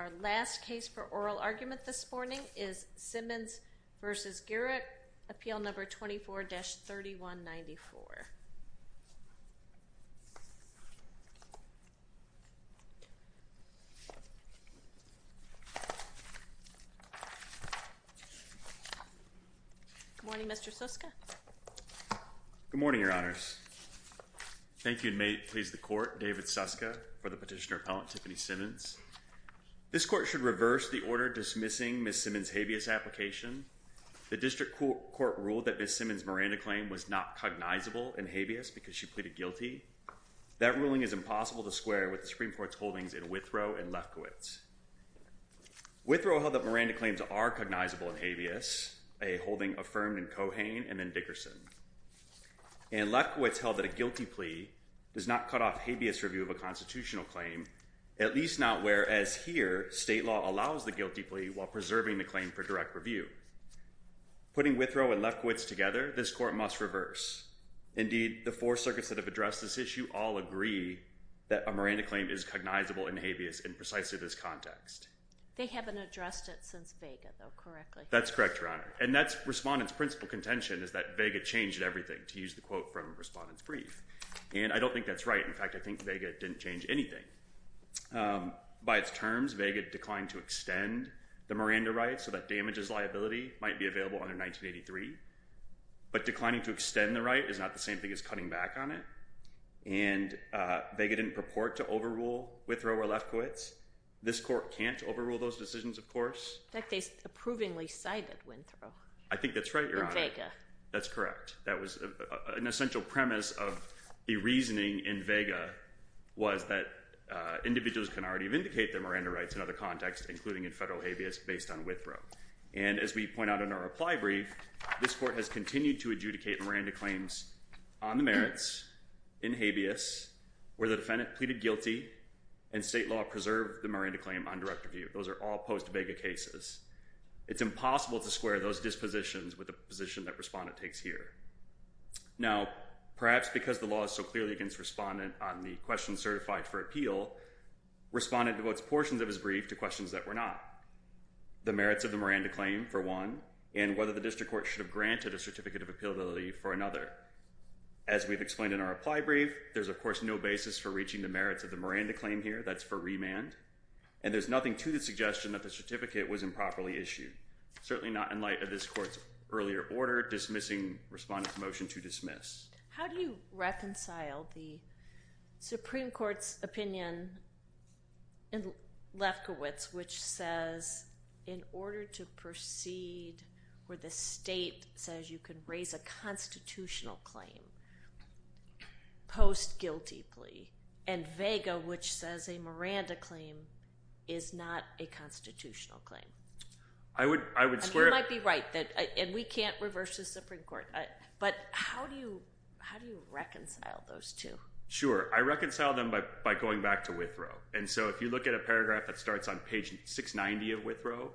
Our last case for oral argument this morning is Simmons v. Gierach, Appeal No. 24-3194. Good morning, Mr. Suska. Good morning, Your Honors. Thank you, and may it please the Court, David Suska, for the petitioner, Appellant Tiffany Simmons. This Court should reverse the order dismissing Ms. Simmons' habeas application. The District Court ruled that Ms. Simmons' Miranda claim was not cognizable in habeas because she pleaded guilty. That ruling is impossible to square with the Supreme Court's holdings in Withrow and Lefkowitz. Withrow held that Miranda claims are cognizable in habeas, a holding affirmed in Cohane and then Dickerson. And Lefkowitz held that a guilty plea does not cut off habeas review of a constitutional claim, at least not whereas here state law allows the guilty plea while preserving the claim for direct review. Putting Withrow and Lefkowitz together, this Court must reverse. Indeed, the four circuits that have addressed this issue all agree that a Miranda claim is cognizable in habeas in precisely this context. They haven't addressed it since Vega, though, correctly. That's correct, Your Honor. And that's Respondent's principal contention is that Vega changed everything, to use the quote from Respondent's brief. And I don't think that's right. In fact, I think Vega didn't change anything. By its terms, Vega declined to extend the Miranda right so that damages liability might be available under 1983. But declining to extend the right is not the same thing as cutting back on it. And Vega didn't purport to overrule Withrow or Lefkowitz. This Court can't overrule those decisions, of course. In fact, they approvingly cited Withrow. I think that's right, Your Honor. That's correct. That was an essential premise of the reasoning in Vega was that individuals can already vindicate their Miranda rights in other contexts, including in federal habeas, based on Withrow. And as we point out in our reply brief, this Court has continued to adjudicate Miranda claims on the merits, in habeas, where the defendant pleaded guilty and state law preserved the Miranda claim on direct review. Those are all post-Vega cases. It's impossible to square those dispositions with the position that Respondent takes here. Now, perhaps because the law is so clearly against Respondent on the questions certified for appeal, Respondent devotes portions of his brief to questions that were not. The merits of the Miranda claim, for one, and whether the district court should have granted a certificate of appealability for another. As we've explained in our reply brief, there's, of course, no basis for reaching the merits of the Miranda claim here. That's for remand. And there's nothing to the suggestion that the certificate was improperly issued, certainly not in light of this Court's earlier order dismissing Respondent's motion to dismiss. How do you reconcile the Supreme Court's opinion in Lefkowitz, which says in order to proceed where the state says you can raise a constitutional claim post guilty plea, and Vega, which says a Miranda claim is not a constitutional claim? You might be right. And we can't reverse the Supreme Court. But how do you reconcile those two? Sure. I reconcile them by going back to Withrow. And so if you look at a paragraph that starts on page 690 of Withrow,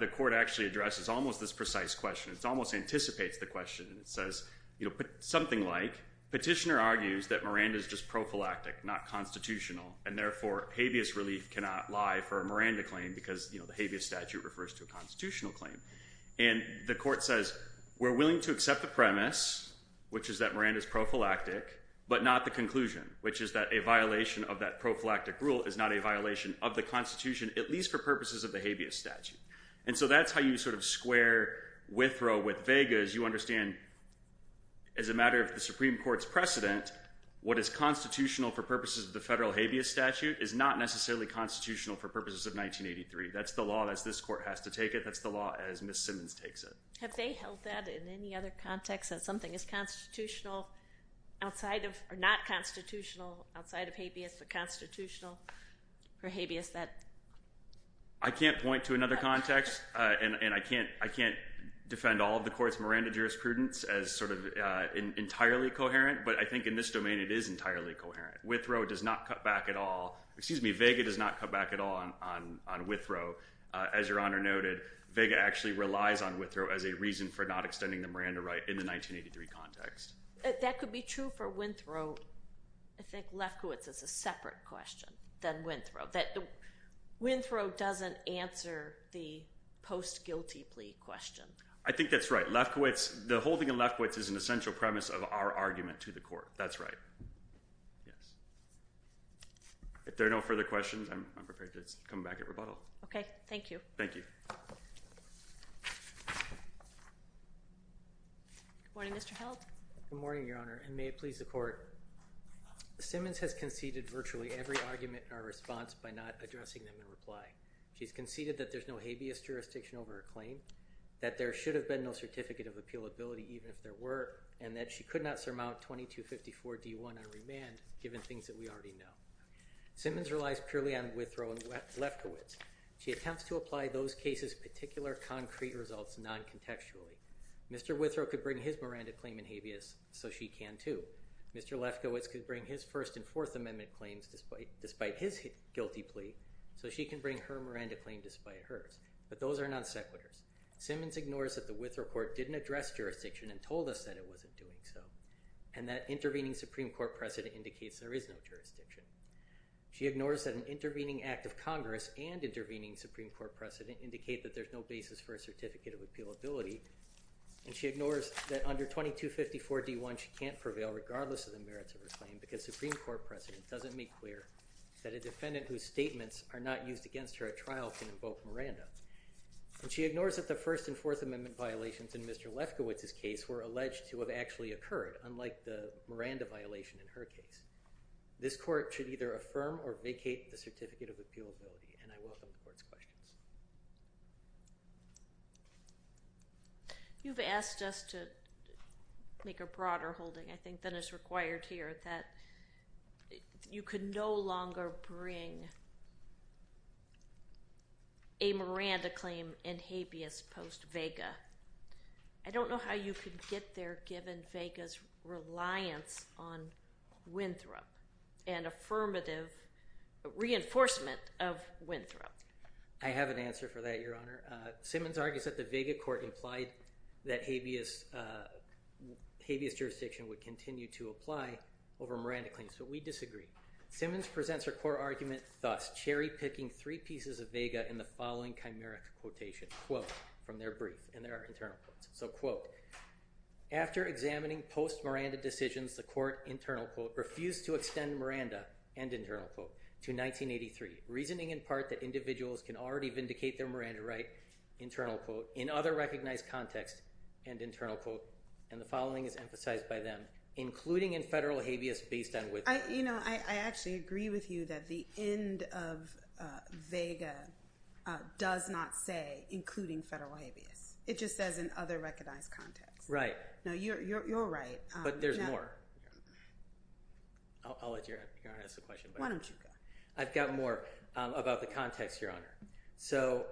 the Court actually addresses almost this precise question. It almost anticipates the question. It says something like petitioner argues that Miranda is just prophylactic, not constitutional, and therefore habeas relief cannot lie for a Miranda claim because the habeas statute refers to a constitutional claim. And the Court says we're willing to accept the premise, which is that Miranda is prophylactic, but not the conclusion, which is that a violation of that prophylactic rule is not a violation of the Constitution, at least for purposes of the habeas statute. And so that's how you sort of square Withrow with Vega. As you understand, as a matter of the Supreme Court's precedent, what is constitutional for purposes of the federal habeas statute is not necessarily constitutional for purposes of 1983. That's the law as this Court has to take it. That's the law as Ms. Simmons takes it. Have they held that in any other context, that something is constitutional outside of or not constitutional outside of habeas but constitutional for habeas? I can't point to another context, and I can't defend all of the Court's Miranda jurisprudence as sort of entirely coherent, but I think in this domain it is entirely coherent. Withrow does not cut back at all—excuse me, Vega does not cut back at all on Withrow. As Your Honor noted, Vega actually relies on Withrow as a reason for not extending the Miranda right in the 1983 context. That could be true for Winthrow. I think Lefkowitz is a separate question than Withrow. Withrow doesn't answer the post-guilty plea question. I think that's right. Lefkowitz—the whole thing in Lefkowitz is an essential premise of our argument to the Court. That's right. Yes. If there are no further questions, I'm prepared to come back at rebuttal. Okay. Thank you. Thank you. Good morning, Mr. Held. Good morning, Your Honor, and may it please the Court. Simmons has conceded virtually every argument in our response by not addressing them in reply. She's conceded that there's no habeas jurisdiction over her claim, that there should have been no certificate of appealability even if there were, and that she could not surmount 2254 D.1 on remand given things that we already know. Simmons relies purely on Withrow and Lefkowitz. She attempts to apply those cases' particular concrete results non-contextually. Mr. Withrow could bring his Miranda claim in habeas, so she can too. Mr. Lefkowitz could bring his First and Fourth Amendment claims despite his guilty plea, so she can bring her Miranda claim despite hers, but those are non-sequiturs. Simmons ignores that the Withrow Court didn't address jurisdiction and told us that it wasn't doing so and that intervening Supreme Court precedent indicates there is no jurisdiction. She ignores that an intervening Act of Congress and intervening Supreme Court precedent indicate that there's no basis for a certificate of appealability, and she ignores that under 2254 D.1 she can't prevail regardless of the merits of her claim because Supreme Court precedent doesn't make clear that a defendant whose statements are not used against her at trial can invoke Miranda. And she ignores that the First and Fourth Amendment violations in Mr. Lefkowitz's case were alleged to have actually occurred, unlike the Miranda violation in her case. This court should either affirm or vacate the certificate of appealability, and I welcome the court's questions. You've asked us to make a broader holding, I think, than is required here, that you could no longer bring a Miranda claim in habeas post-Vega. I don't know how you could get there given Vega's reliance on Winthrop and affirmative reinforcement of Winthrop. I have an answer for that, Your Honor. Simmons argues that the Vega court implied that habeas jurisdiction would continue to apply over Miranda claims, but we disagree. Simmons presents her core argument thus, cherry-picking three pieces of Vega in the following chimeric quotation, quote, from their brief, and there are internal quotes. So, quote, after examining post-Miranda decisions, the court, internal quote, refused to extend Miranda, end internal quote, to 1983, reasoning in part that individuals can already vindicate their Miranda right, internal quote, in other recognized contexts, end internal quote, and the following is emphasized by them, including in federal habeas based on Winthrop. You know, I actually agree with you that the end of Vega does not say including federal habeas. It just says in other recognized contexts. Right. No, you're right. But there's more. I'll let Your Honor ask the question. Why don't you go? I've got more about the context, Your Honor. So,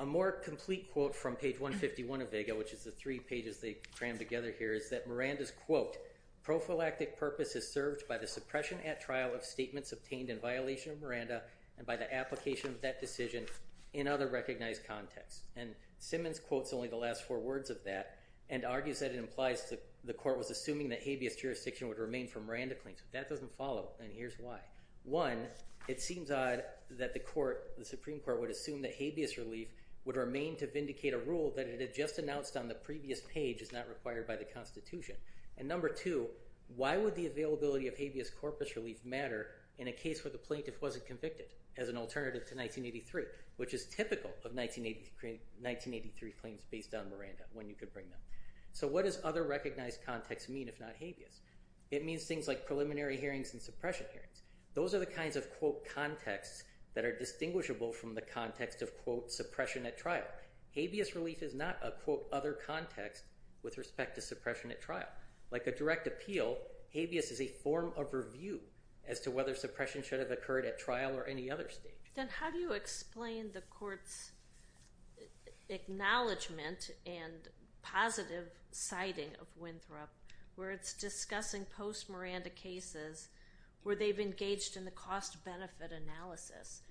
a more complete quote from page 151 of Vega, which is the three pages they crammed together here, is that Miranda's, quote, prophylactic purpose is served by the suppression at trial of statements obtained in violation of Miranda and by the application of that decision in other recognized contexts. And Simmons quotes only the last four words of that and argues that it implies the court was assuming that habeas jurisdiction would remain for Miranda claims. If that doesn't follow, then here's why. One, it seems odd that the Supreme Court would assume that habeas relief would remain to vindicate a rule that it had just announced on the previous page is not required by the Constitution. And number two, why would the availability of habeas corpus relief matter in a case where the plaintiff wasn't convicted as an alternative to 1983, which is typical of 1983 claims based on Miranda, when you could bring them. So what does other recognized contexts mean if not habeas? It means things like preliminary hearings and suppression hearings. Those are the kinds of, quote, contexts that are distinguishable from the context of, quote, suppression at trial. Habeas relief is not a, quote, other context with respect to suppression at trial. Like a direct appeal, habeas is a form of review as to whether suppression should have occurred at trial or any other stage. Then how do you explain the court's acknowledgement and positive citing of Winthrop where it's discussing post-Miranda cases where they've engaged in the cost-benefit analysis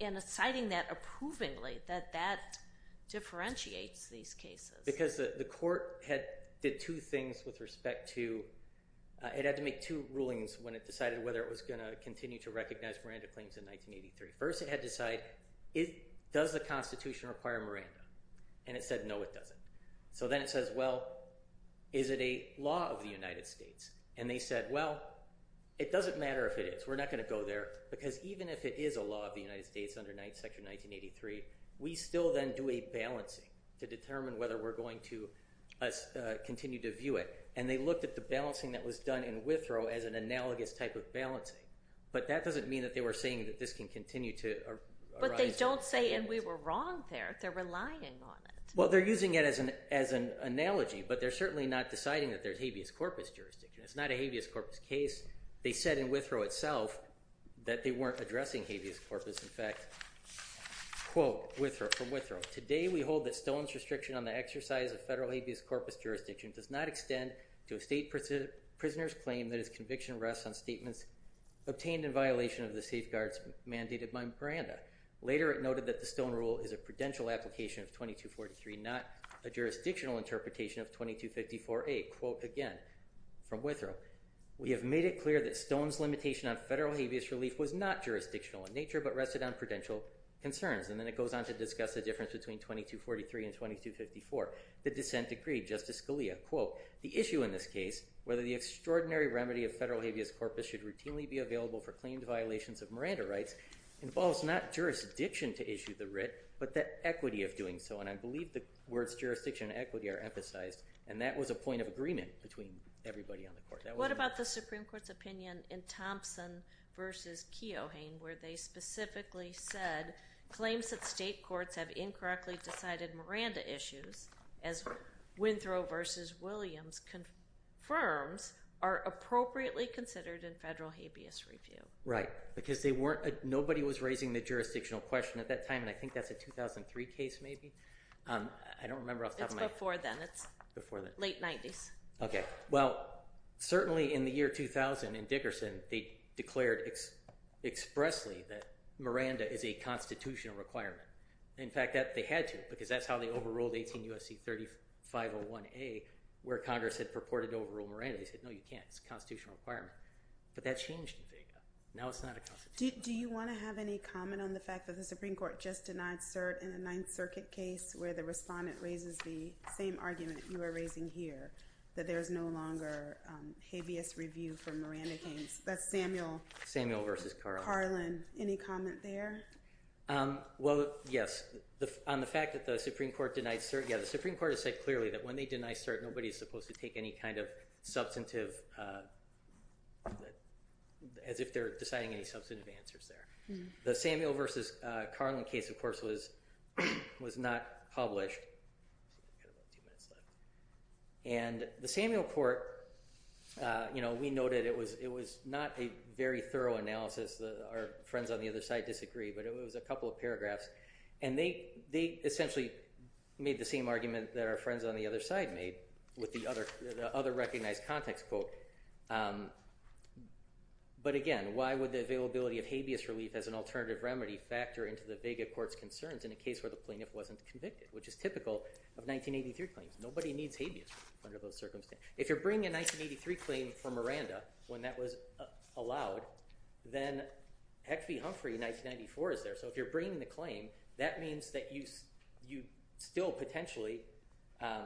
and citing that approvingly, that that differentiates these cases? Because the court did two things with respect to—it had to make two rulings when it decided whether it was going to continue to recognize Miranda claims in 1983. First, it had to decide, does the Constitution require Miranda? And it said, no, it doesn't. So then it says, well, is it a law of the United States? And they said, well, it doesn't matter if it is. We're not going to go there because even if it is a law of the United States under 9th Section 1983, we still then do a balancing to determine whether we're going to continue to view it. And they looked at the balancing that was done in Withrow as an analogous type of balancing. But that doesn't mean that they were saying that this can continue to arise— But they don't say, and we were wrong there. They're relying on it. Well, they're using it as an analogy, but they're certainly not deciding that there's habeas corpus jurisdiction. It's not a habeas corpus case. They said in Withrow itself that they weren't addressing habeas corpus. Notice, in fact, quote from Withrow, Today we hold that Stone's restriction on the exercise of federal habeas corpus jurisdiction does not extend to a state prisoner's claim that his conviction rests on statements obtained in violation of the safeguards mandated by Miranda. Later it noted that the Stone rule is a prudential application of 2243, not a jurisdictional interpretation of 2254A. Quote again from Withrow, We have made it clear that Stone's limitation on federal habeas relief was not jurisdictional in nature, but rested on prudential concerns. And then it goes on to discuss the difference between 2243 and 2254. The dissent agreed. Justice Scalia, quote, The issue in this case, whether the extraordinary remedy of federal habeas corpus should routinely be available for claimed violations of Miranda rights, involves not jurisdiction to issue the writ, but the equity of doing so. And I believe the words jurisdiction and equity are emphasized. And that was a point of agreement between everybody on the court. What about the Supreme Court's opinion in Thompson v. Keohane, where they specifically said claims that state courts have incorrectly decided Miranda issues, as Withrow v. Williams confirms, are appropriately considered in federal habeas review? Right, because they weren't, nobody was raising the jurisdictional question at that time, and I think that's a 2003 case maybe. I don't remember off the top of my head. Before then. Before then. Late 90s. Okay. Well, certainly in the year 2000 in Dickerson, they declared expressly that Miranda is a constitutional requirement. In fact, they had to, because that's how they overruled 18 U.S.C. 3501A, where Congress had purported to overrule Miranda. They said, no, you can't. It's a constitutional requirement. But that changed in Fayetteville. Now it's not a constitutional requirement. Do you want to have any comment on the fact that the Supreme Court just denied cert in a Ninth Circuit case where the respondent raises the same argument you are raising here, that there is no longer habeas review for Miranda case? That's Samuel. Samuel v. Carlin. Carlin. Any comment there? Well, yes. On the fact that the Supreme Court denied cert, yeah, the Supreme Court has said clearly that when they deny cert, nobody is supposed to take any kind of substantive, as if they're deciding any substantive answers there. The Samuel v. Carlin case, of course, was not published. And the Samuel court, you know, we noted it was not a very thorough analysis. Our friends on the other side disagree, but it was a couple of paragraphs. And they essentially made the same argument that our friends on the other side made with the other recognized context quote. But, again, why would the availability of habeas relief as an alternative remedy factor into the Vega court's concerns in a case where the plaintiff wasn't convicted, which is typical of 1983 claims. Nobody needs habeas under those circumstances. If you're bringing a 1983 claim for Miranda when that was allowed, then Hecht v. Humphrey in 1994 is there. So if you're bringing the claim, that means that you still potentially,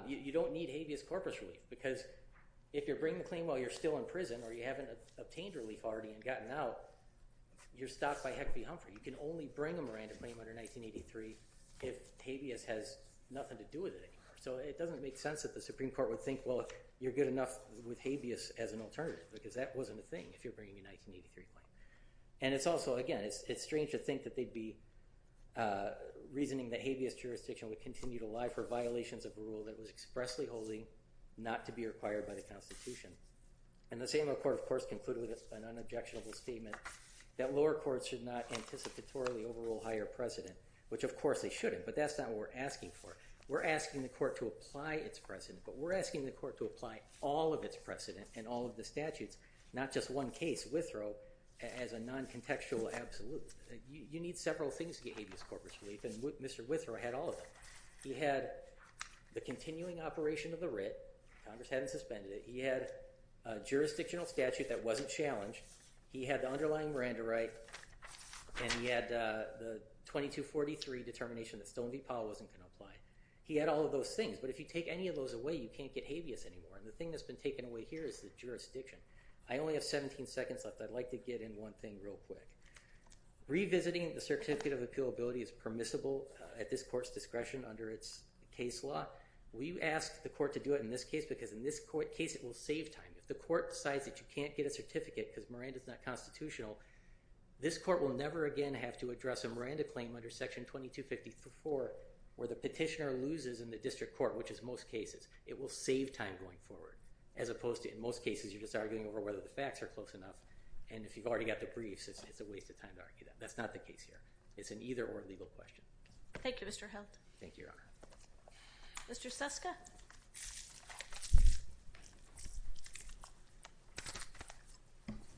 you don't need habeas corpus relief because if you're bringing the claim while you're still in prison or you haven't obtained relief already and gotten out, you're stopped by Hecht v. Humphrey. You can only bring a Miranda claim under 1983 if habeas has nothing to do with it anymore. So it doesn't make sense that the Supreme Court would think, well, you're good enough with habeas as an alternative because that wasn't a thing if you're bringing a 1983 claim. And it's also, again, it's strange to think that they'd be reasoning that habeas jurisdiction would continue to lie for violations of a rule that was expressly holding not to be required by the Constitution. And the same court, of course, concluded with an unobjectionable statement that lower courts should not anticipatorily overrule higher precedent, which of course they shouldn't, but that's not what we're asking for. We're asking the court to apply its precedent, but we're asking the court to apply all of its precedent and all of the statutes, not just one case, Withrow, as a non-contextual absolute. You need several things to get habeas corpus relief, and Mr. Withrow had all of them. He had the continuing operation of the writ. Congress hadn't suspended it. He had a jurisdictional statute that wasn't challenged. He had the underlying Miranda right, and he had the 2243 determination that Stone v. Powell wasn't going to apply. He had all of those things, but if you take any of those away, you can't get habeas anymore, and the thing that's been taken away here is the jurisdiction. I only have 17 seconds left. I'd like to get in one thing real quick. Revisiting the certificate of appealability is permissible at this court's discretion under its case law. We've asked the court to do it in this case because in this case, it will save time. If the court decides that you can't get a certificate because Miranda's not constitutional, this court will never again have to address a Miranda claim under Section 2254 where the petitioner loses in the district court, which is most cases. It will save time going forward as opposed to in most cases you're just arguing over whether the facts are close enough, and if you've already got the briefs, it's a waste of time to argue that. That's not the case here. It's an either or legal question. Thank you, Mr. Heldt. Thank you, Your Honor. Mr. Suska.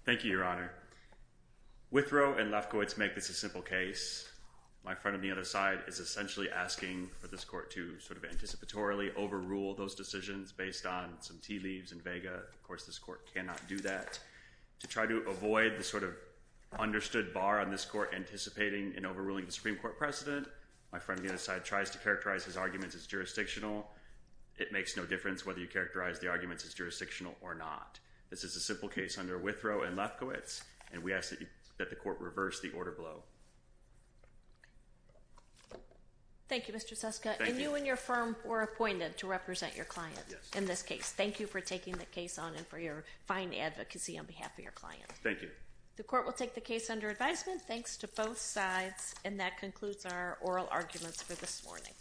Thank you, Your Honor. Withrow and Lefkowitz make this a simple case. My friend on the other side is essentially asking for this court to anticipatorily overrule those decisions based on some tea leaves and vega. Of course, this court cannot do that. To try to avoid the sort of understood bar on this court anticipating and overruling the Supreme Court precedent, my friend on the other side tries to characterize his arguments as jurisdictional. It makes no difference whether you characterize the arguments as jurisdictional or not. This is a simple case under Withrow and Lefkowitz, and we ask that the court reverse the order below. Thank you, Mr. Suska. And you and your firm were appointed to represent your client in this case. Thank you for taking the case on and for your fine advocacy on behalf of your client. Thank you. The court will take the case under advisement. Thanks to both sides. And that concludes our oral arguments for this morning.